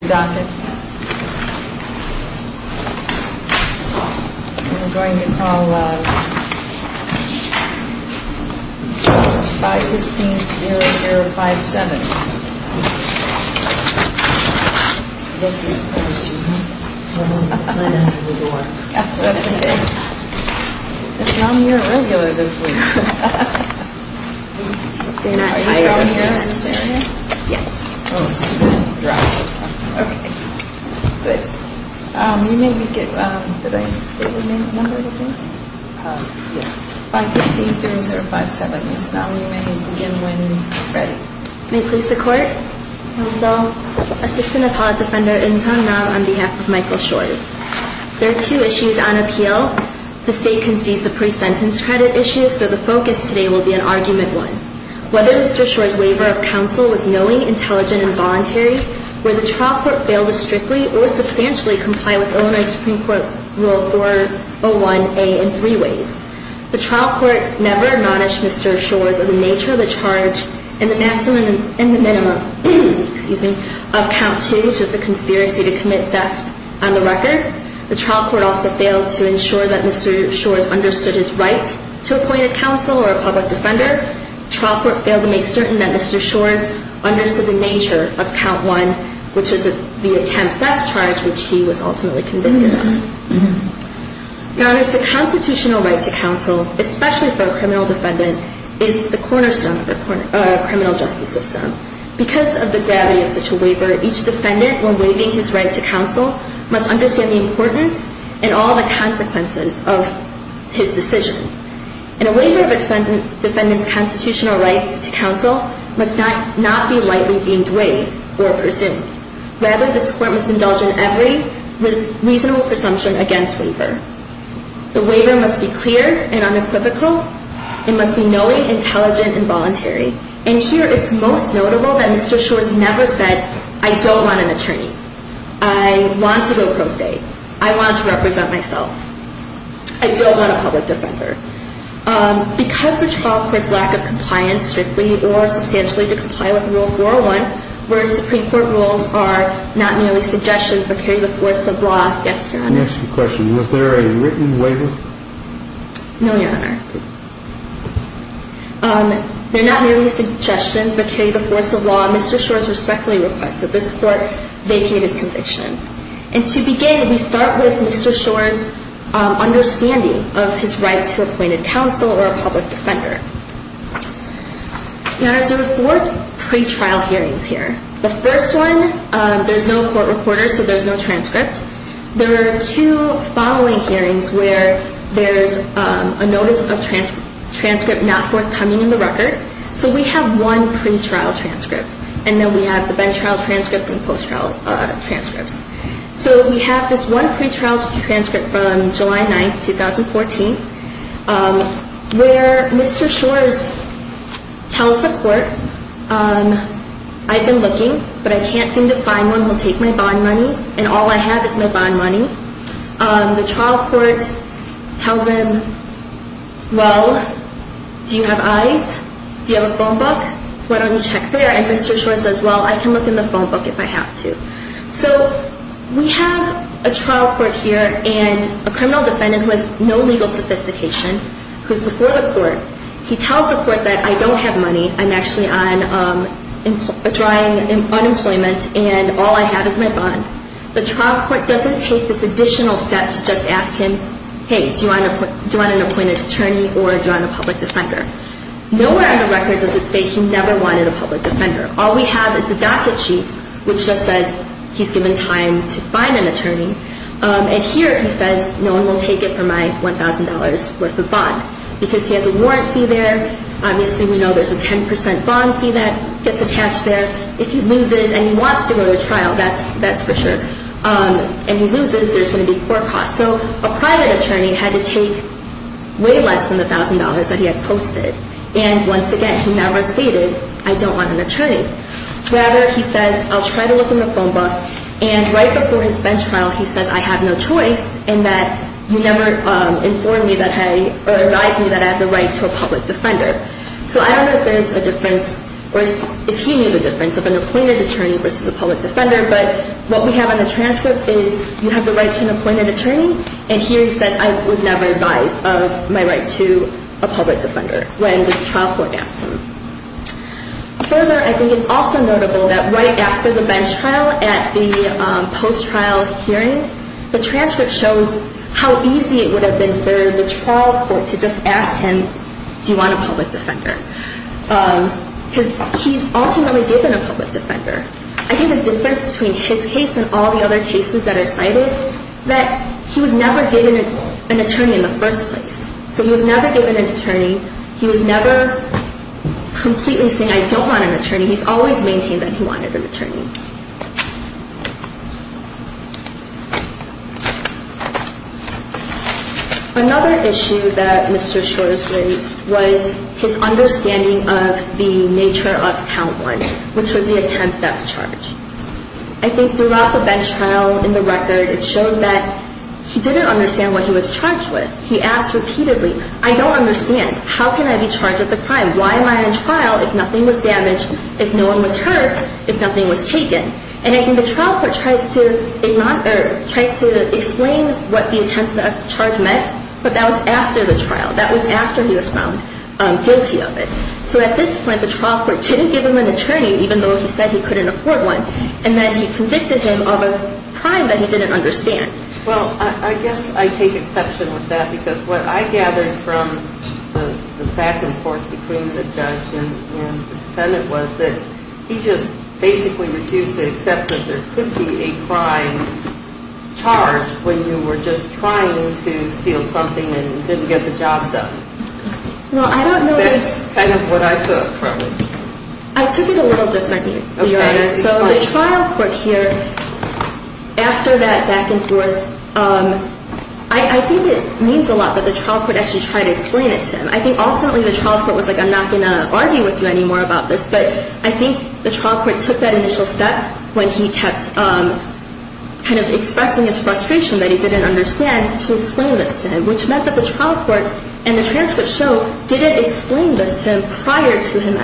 We're going to call 515-0057. It's not near regular this week. Are you from here? Yes. Oh, so you didn't drop it. Okay, good. You may begin, did I say the number I think? Yeah. 515-0057. Yes, now you may begin when ready. May it please the Court? Yes, ma'am. Assistant Appellate Defender In Sun Ra on behalf of Michael Shores. There are two issues on appeal. The State concedes a pre-sentence credit issue, so the focus today will be an argument one. Whether Mr. Shores' waiver of counsel was knowing, intelligent, and voluntary, or the trial court failed to strictly or substantially comply with Illinois Supreme Court Rule 401A in three ways. The trial court never acknowledged Mr. Shores and the nature of the charge in the maximum and the minimum of count two, which is a conspiracy to commit theft on the record. The trial court also failed to ensure that Mr. Shores understood his right to appointed counsel or a public defender. The trial court failed to make certain that Mr. Shores understood the nature of count one, which is the attempt theft charge, which he was ultimately convicted of. Your Honors, the constitutional right to counsel, especially for a criminal defendant, is the cornerstone of the criminal justice system. Because of the gravity of such a waiver, each defendant, when waiving his right to counsel, must understand the importance and all the consequences of his decision. And a waiver of a defendant's constitutional rights to counsel must not be lightly deemed waived or pursued. Rather, this Court must indulge in every reasonable presumption against waiver. The waiver must be clear and unequivocal. It must be knowing, intelligent, and voluntary. And here, it's most notable that Mr. Shores never said, I don't want an attorney. I want to go pro se. I want to represent myself. I don't want a public defender. Because the trial court's lack of compliance strictly or substantially to comply with Rule 401, where Supreme Court rules are not merely suggestions but carry the force of law. Yes, Your Honor. Next question. Was there a written waiver? No, Your Honor. They're not merely suggestions but carry the force of law. Mr. Shores respectfully requests that this Court vacate his conviction. And to begin, we start with Mr. Shores' understanding of his right to appointed counsel or a public defender. Your Honor, there are four pretrial hearings here. The first one, there's no court reporter, so there's no transcript. There are two following hearings where there's a notice of transcript not forthcoming in the record. So we have one pretrial transcript. And then we have the bench trial transcript and post trial transcripts. So we have this one pretrial transcript from July 9, 2014, where Mr. Shores tells the court, I've been looking, but I can't seem to find one who will take my bond money, and all I have is no bond money. The trial court tells him, Well, do you have eyes? Do you have a phone book? Why don't you check there? And Mr. Shores says, Well, I can look in the phone book if I have to. So we have a trial court here and a criminal defendant who has no legal sophistication, who's before the court. He tells the court that I don't have money. I'm actually on a drying unemployment, and all I have is my bond. The trial court doesn't take this additional step to just ask him, Hey, do you want an appointed attorney or do you want a public defender? Nowhere on the record does it say he never wanted a public defender. All we have is a docket sheet which just says he's given time to find an attorney, and here he says no one will take it for my $1,000 worth of bond because he has a warrant fee there. Obviously, we know there's a 10 percent bond fee that gets attached there. If he loses and he wants to go to trial, that's for sure, and he loses, there's going to be court costs. So a private attorney had to take way less than the $1,000 that he had posted, and once again, he never stated I don't want an attorney. Rather, he says I'll try to look in the phone book, and right before his bench trial, he says I have no choice in that you never advised me that I have the right to a public defender. So I don't know if there's a difference or if he knew the difference of an appointed attorney versus a public defender, but what we have on the transcript is you have the right to an appointed attorney, and here he says I was never advised of my right to a public defender when the trial court asked him. Further, I think it's also notable that right after the bench trial at the post-trial hearing, the transcript shows how easy it would have been for the trial court to just ask him do you want a public defender because he's ultimately given a public defender. I think the difference between his case and all the other cases that are cited, that he was never given an attorney in the first place. So he was never given an attorney. He was never completely saying I don't want an attorney. Another issue that Mr. Shores raised was his understanding of the nature of count one, which was the attempt at charge. I think throughout the bench trial in the record, it shows that he didn't understand what he was charged with. He asked repeatedly, I don't understand. How can I be charged with a crime? Why am I on trial if nothing was damaged, if no one was hurt, if nothing was taken? And I think the trial court tries to explain what the attempt at charge meant, but that was after the trial. That was after he was found guilty of it. So at this point, the trial court didn't give him an attorney even though he said he couldn't afford one. And then he convicted him of a crime that he didn't understand. Well, I guess I take exception with that because what I gathered from the back and forth between the judge and the defendant was that he just basically refused to accept that there could be a crime charged when you were just trying to steal something and didn't get the job done. That's kind of what I took from it. I took it a little differently. So the trial court here, after that back and forth, I think it means a lot that the trial court actually tried to explain it to him. I think ultimately the trial court was like, I'm not going to argue with you anymore about this, but I think the trial court took that initial step when he kept kind of expressing his frustration that he didn't understand to explain this to him, which meant that the trial court and the transcript show didn't explain this to him prior to him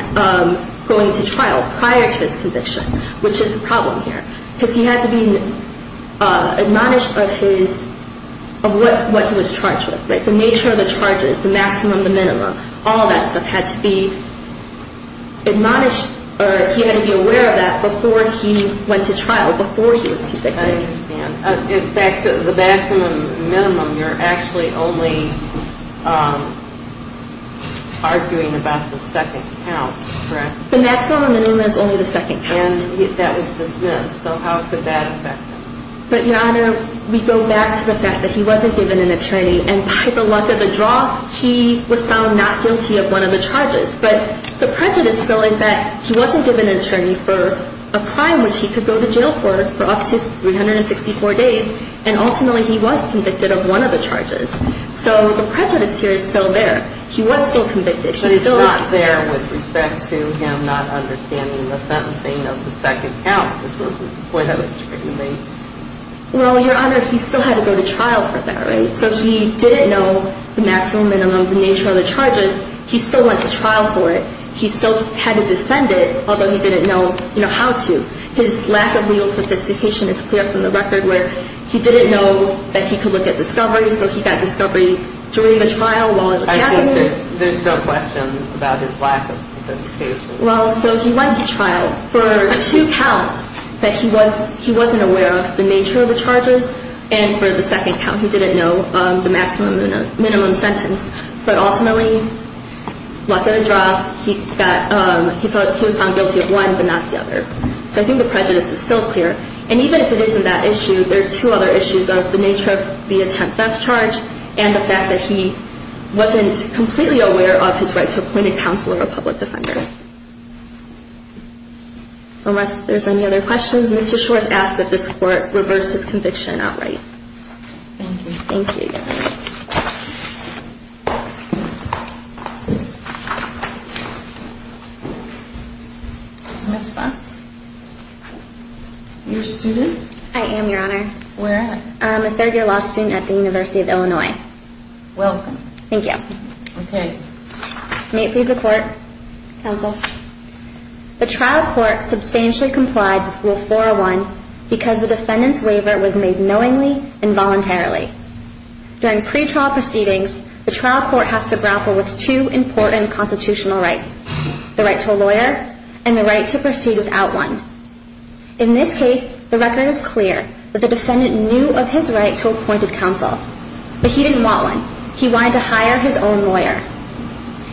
going to trial, prior to his conviction, which is the problem here because he had to be admonished of what he was charged with, the nature of the charges, the maximum, the minimum. All that stuff had to be admonished or he had to be aware of that before he went to trial, before he was convicted. I understand. In fact, the maximum and minimum, you're actually only arguing about the second count, correct? The maximum and minimum is only the second count. And that was dismissed. So how could that affect him? But, Your Honor, we go back to the fact that he wasn't given an attorney, and by the luck of the draw, he was found not guilty of one of the charges. But the prejudice still is that he wasn't given an attorney for a crime which he could go to jail for for up to 364 days, and ultimately he was convicted of one of the charges. So the prejudice here is still there. He was still convicted. But it's not there with respect to him not understanding the sentencing of the second count. Well, Your Honor, he still had to go to trial for that, right? So he didn't know the maximum, minimum, the nature of the charges. He still went to trial for it. He still had to defend it, although he didn't know, you know, how to. His lack of real sophistication is clear from the record where he didn't know that he could look at discovery, so he got discovery during the trial while in the cabinet. I think there's no question about his lack of sophistication. Well, so he went to trial for two counts that he wasn't aware of the nature of the charges, and for the second count he didn't know the maximum, minimum sentence. But ultimately, luck of the draw, he was found guilty of one but not the other. So I think the prejudice is still clear. And even if it isn't that issue, there are two other issues of the nature of the attempt theft charge and the fact that he wasn't completely aware of his right to appoint a counsel or a public defender. So unless there's any other questions, Mr. Schor has asked that this court reverse his conviction outright. Thank you. Thank you. Ms. Fox, you're a student? I am, Your Honor. Where at? I'm a third-year law student at the University of Illinois. Welcome. Thank you. Okay. May it please the Court. Counsel. The trial court substantially complied with Rule 401 because the defendant's waiver was made knowingly and voluntarily. During pretrial proceedings, the trial court has to grapple with two important constitutional rights, the right to a lawyer and the right to proceed without one. In this case, the record is clear that the defendant knew of his right to appointed counsel, but he didn't want one. He wanted to hire his own lawyer.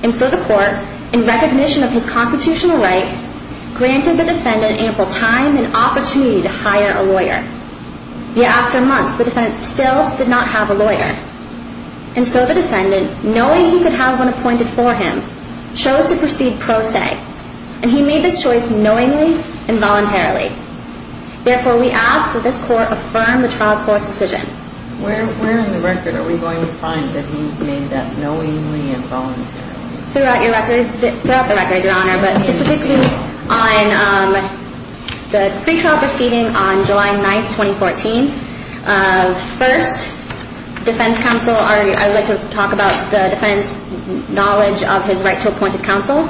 And so the court, in recognition of his constitutional right, granted the defendant ample time and opportunity to hire a lawyer. Yet after months, the defendant still did not have a lawyer. And so the defendant, knowing he could have one appointed for him, chose to proceed pro se. And he made this choice knowingly and voluntarily. Therefore, we ask that this Court affirm the trial court's decision. Where in the record are we going to find that he made that knowingly and voluntarily? Throughout the record, Your Honor, but specifically on the pretrial proceeding on July 9, 2014. First, defense counsel, I would like to talk about the defendant's knowledge of his right to appointed counsel.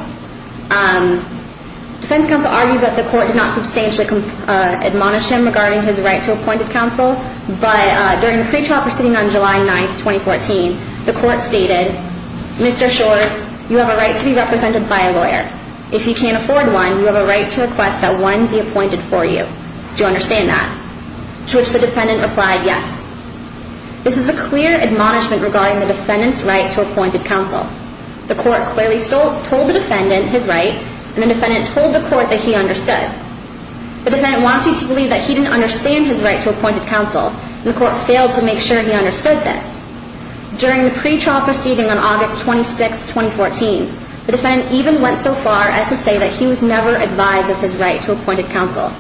Defense counsel argues that the court did not substantially admonish him regarding his right to appointed counsel. But during the pretrial proceeding on July 9, 2014, the court stated, Mr. Shores, you have a right to be represented by a lawyer. If you can't afford one, you have a right to request that one be appointed for you. Do you understand that? To which the defendant replied, yes. This is a clear admonishment regarding the defendant's right to appointed counsel. The court clearly told the defendant his right, and the defendant told the court that he understood. The defendant wanted to believe that he didn't understand his right to appointed counsel, and the court failed to make sure he understood this. During the pretrial proceeding on August 26, 2014, the defendant even went so far as to say that he was never advised of his right to appointed counsel.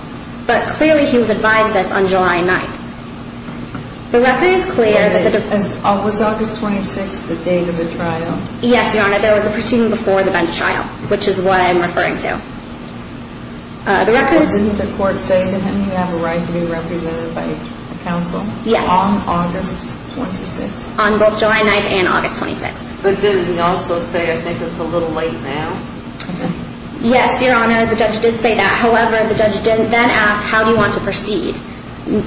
But clearly he was advised this on July 9. The record is clear. Was August 26 the date of the trial? Yes, Your Honor. There was a proceeding before the bench trial, which is what I'm referring to. Wasn't the court saying to him he has a right to be represented by counsel? Yes. On August 26? On both July 9 and August 26. But didn't he also say, I think it's a little late now? Yes, Your Honor. The judge did say that. However, the judge then asked, how do you want to proceed?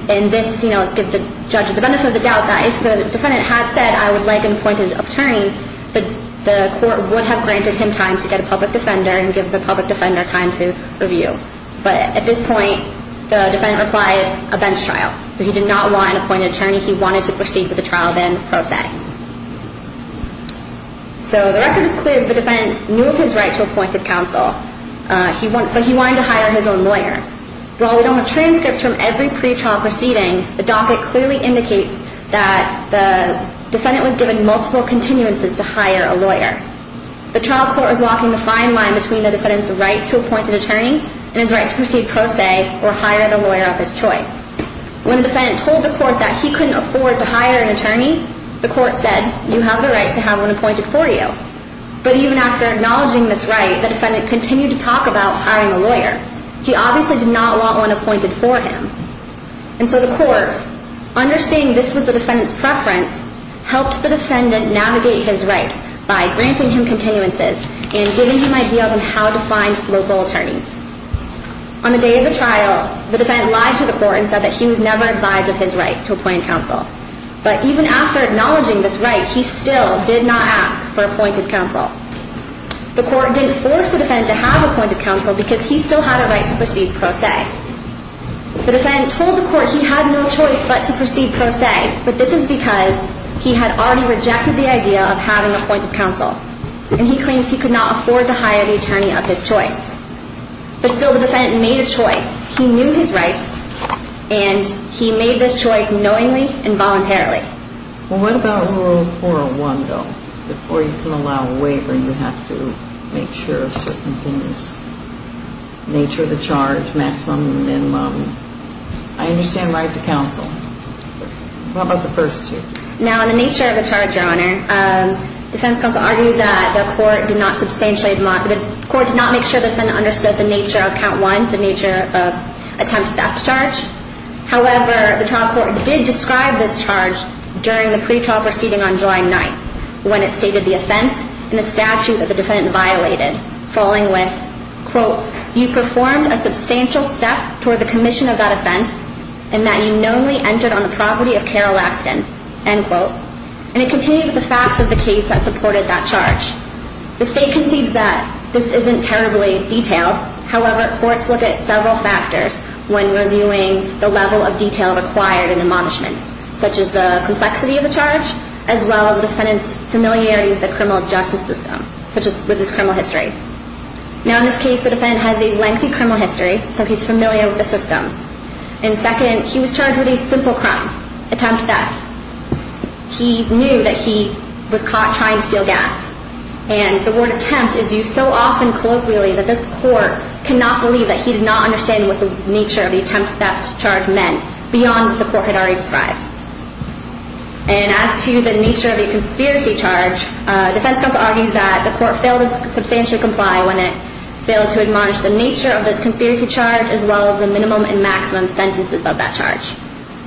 And this, you know, gives the judge the benefit of the doubt, that if the defendant had said, I would like an appointed attorney, the court would have granted him time to get a public defender and give the public defender time to review. But at this point, the defendant replied, a bench trial. So he did not want an appointed attorney. He wanted to proceed with the trial then, pro se. So the record is clear. The defendant knew of his right to appointed counsel, but he wanted to hire his own lawyer. While we don't have transcripts from every pretrial proceeding, the docket clearly indicates that the defendant was given multiple continuances to hire a lawyer. The trial court was walking the fine line between the defendant's right to appointed attorney and his right to proceed pro se or hire the lawyer of his choice. When the defendant told the court that he couldn't afford to hire an attorney, the court said, you have the right to have one appointed for you. But even after acknowledging this right, the defendant continued to talk about hiring a lawyer. He obviously did not want one appointed for him. And so the court, understanding this was the defendant's preference, helped the defendant navigate his rights by granting him continuances and giving him ideas on how to find local attorneys. On the day of the trial, the defendant lied to the court and said that he was never advised of his right to appointed counsel. But even after acknowledging this right, he still did not ask for appointed counsel. The court didn't force the defendant to have appointed counsel because he still had a right to proceed pro se. The defendant told the court he had no choice but to proceed pro se, but this is because he had already rejected the idea of having appointed counsel and he claims he could not afford to hire the attorney of his choice. But still the defendant made a choice. Well, what about Rule 401, though? Before you can allow a waiver, you have to make sure certain things, nature of the charge, maximum and minimum. I understand right to counsel. What about the first two? Now, in the nature of the charge, Your Honor, defense counsel argues that the court did not substantially, the court did not make sure the defendant understood the nature of count one, the nature of attempts back to charge. However, the trial court did describe this charge during the pretrial proceeding on July 9th when it stated the offense in a statute that the defendant violated, falling with, quote, you performed a substantial step toward the commission of that offense and that you knownly entered on the property of Carol Askin, end quote. And it contained the facts of the case that supported that charge. The state concedes that this isn't terribly detailed. However, courts look at several factors when reviewing the level of detail required in admonishments, such as the complexity of the charge as well as the defendant's familiarity with the criminal justice system, such as with his criminal history. Now, in this case, the defendant has a lengthy criminal history, so he's familiar with the system. And second, he was charged with a simple crime, attempt theft. He knew that he was caught trying to steal gas. And the word attempt is used so often colloquially that this court cannot believe that he did not understand what the nature of the attempt theft charge meant beyond what the court had already described. And as to the nature of the conspiracy charge, defense counsel argues that the court failed to substantially comply when it failed to admonish the nature of the conspiracy charge as well as the minimum and maximum sentences of that charge.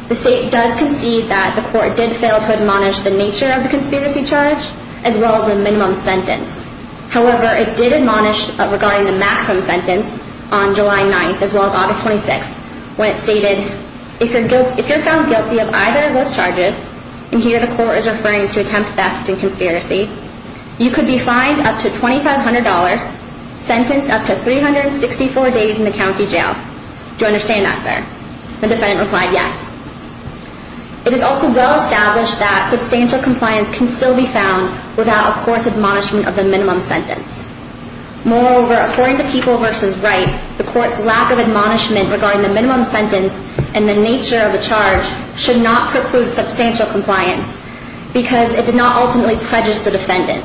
The state does concede that the court did fail to admonish the nature of the conspiracy charge as well as the minimum sentence. However, it did admonish regarding the maximum sentence on July 9th as well as August 26th when it stated, if you're found guilty of either of those charges, and here the court is referring to attempt theft and conspiracy, you could be fined up to $2,500, sentenced up to 364 days in the county jail. Do you understand that, sir? The defendant replied, yes. It is also well established that substantial compliance can still be found without a court's admonishment of the minimum sentence. Moreover, according to People v. Wright, the court's lack of admonishment regarding the minimum sentence and the nature of the charge should not preclude substantial compliance because it did not ultimately prejudice the defendant.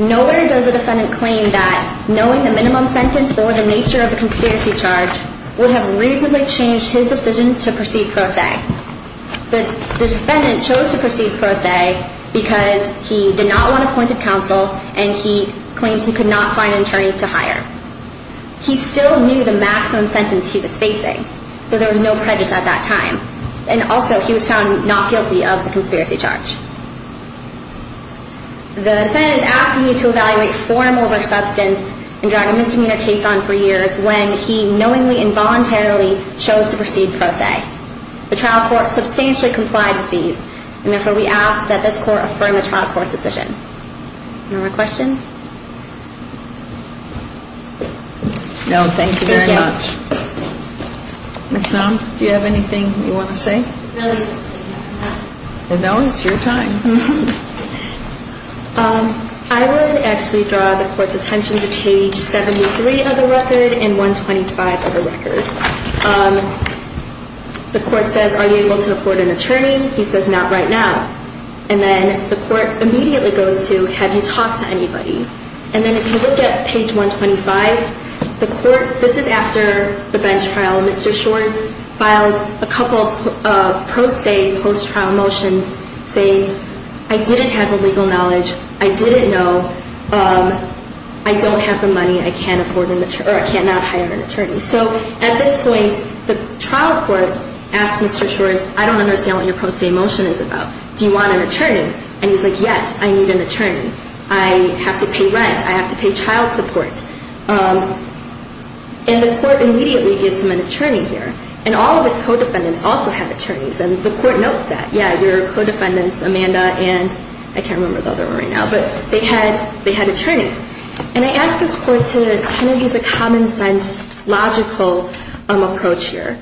Nowhere does the defendant claim that knowing the minimum sentence or the nature of the conspiracy charge would have reasonably changed his decision to proceed pro se. The defendant chose to proceed pro se because he did not want appointed counsel and he claims he could not find an attorney to hire. He still knew the maximum sentence he was facing, so there was no prejudice at that time. And also, he was found not guilty of the conspiracy charge. The defendant is asking you to evaluate form over substance and drag a misdemeanor case on for years when he knowingly and voluntarily chose to proceed pro se. The trial court substantially complied with these, and therefore we ask that this court affirm the trial court's decision. Any more questions? No, thank you very much. Ms. Snow, do you have anything you want to say? No, it's your time. I would actually draw the court's attention to page 73 of the record and 125 of the record. The court says, are you able to afford an attorney? He says, not right now. And then the court immediately goes to, have you talked to anybody? And then if you look at page 125, this is after the bench trial. Mr. Shores filed a couple of pro se post-trial motions saying, I didn't have the legal knowledge. I didn't know. I don't have the money. I cannot hire an attorney. So at this point, the trial court asked Mr. Shores, I don't understand what your post-trial motion is about. Do you want an attorney? And he's like, yes, I need an attorney. I have to pay rent. I have to pay child support. And the court immediately gives him an attorney here. And all of his co-defendants also had attorneys, and the court notes that. Yeah, your co-defendants, Amanda and I can't remember the other one right now, but they had attorneys. And I asked this court to kind of use a common sense, logical approach here.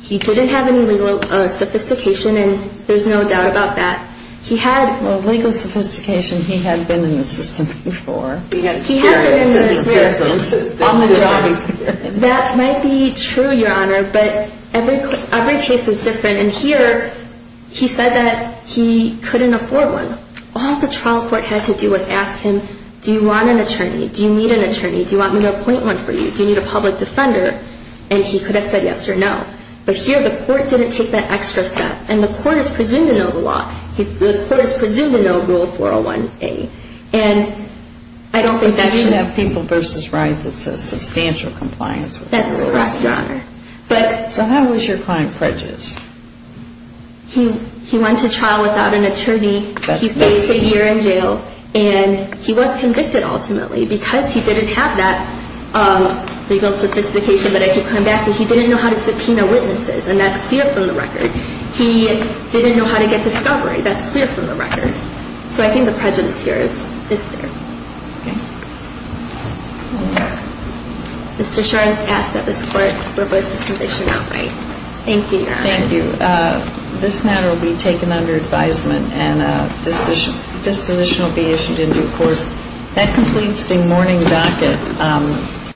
He didn't have any legal sophistication, and there's no doubt about that. He had legal sophistication. He had been in the system before. He had been in the system. On the job experience. That might be true, Your Honor, but every case is different. And here, he said that he couldn't afford one. All the trial court had to do was ask him, do you want an attorney? Do you need an attorney? Do you want me to appoint one for you? Do you need a public defender? And he could have said yes or no. But here, the court didn't take that extra step. And the court is presumed to know the law. The court is presumed to know Rule 401A. And I don't think that should happen. But you have people versus rights. It's a substantial compliance with the rules. That's right, Your Honor. So how is your client prejudiced? He went to trial without an attorney. He faced a year in jail. And he was convicted, ultimately, because he didn't have that legal sophistication that I keep coming back to. He didn't know how to subpoena witnesses, and that's clear from the record. He didn't know how to get discovery. That's clear from the record. So I think the prejudice here is clear. Mr. Sharns asked that this court reverse his conviction outright. Thank you, Your Honor. Thank you. I believe this matter will be taken under advisement and a disposition will be issued in due course. That completes the morning docket.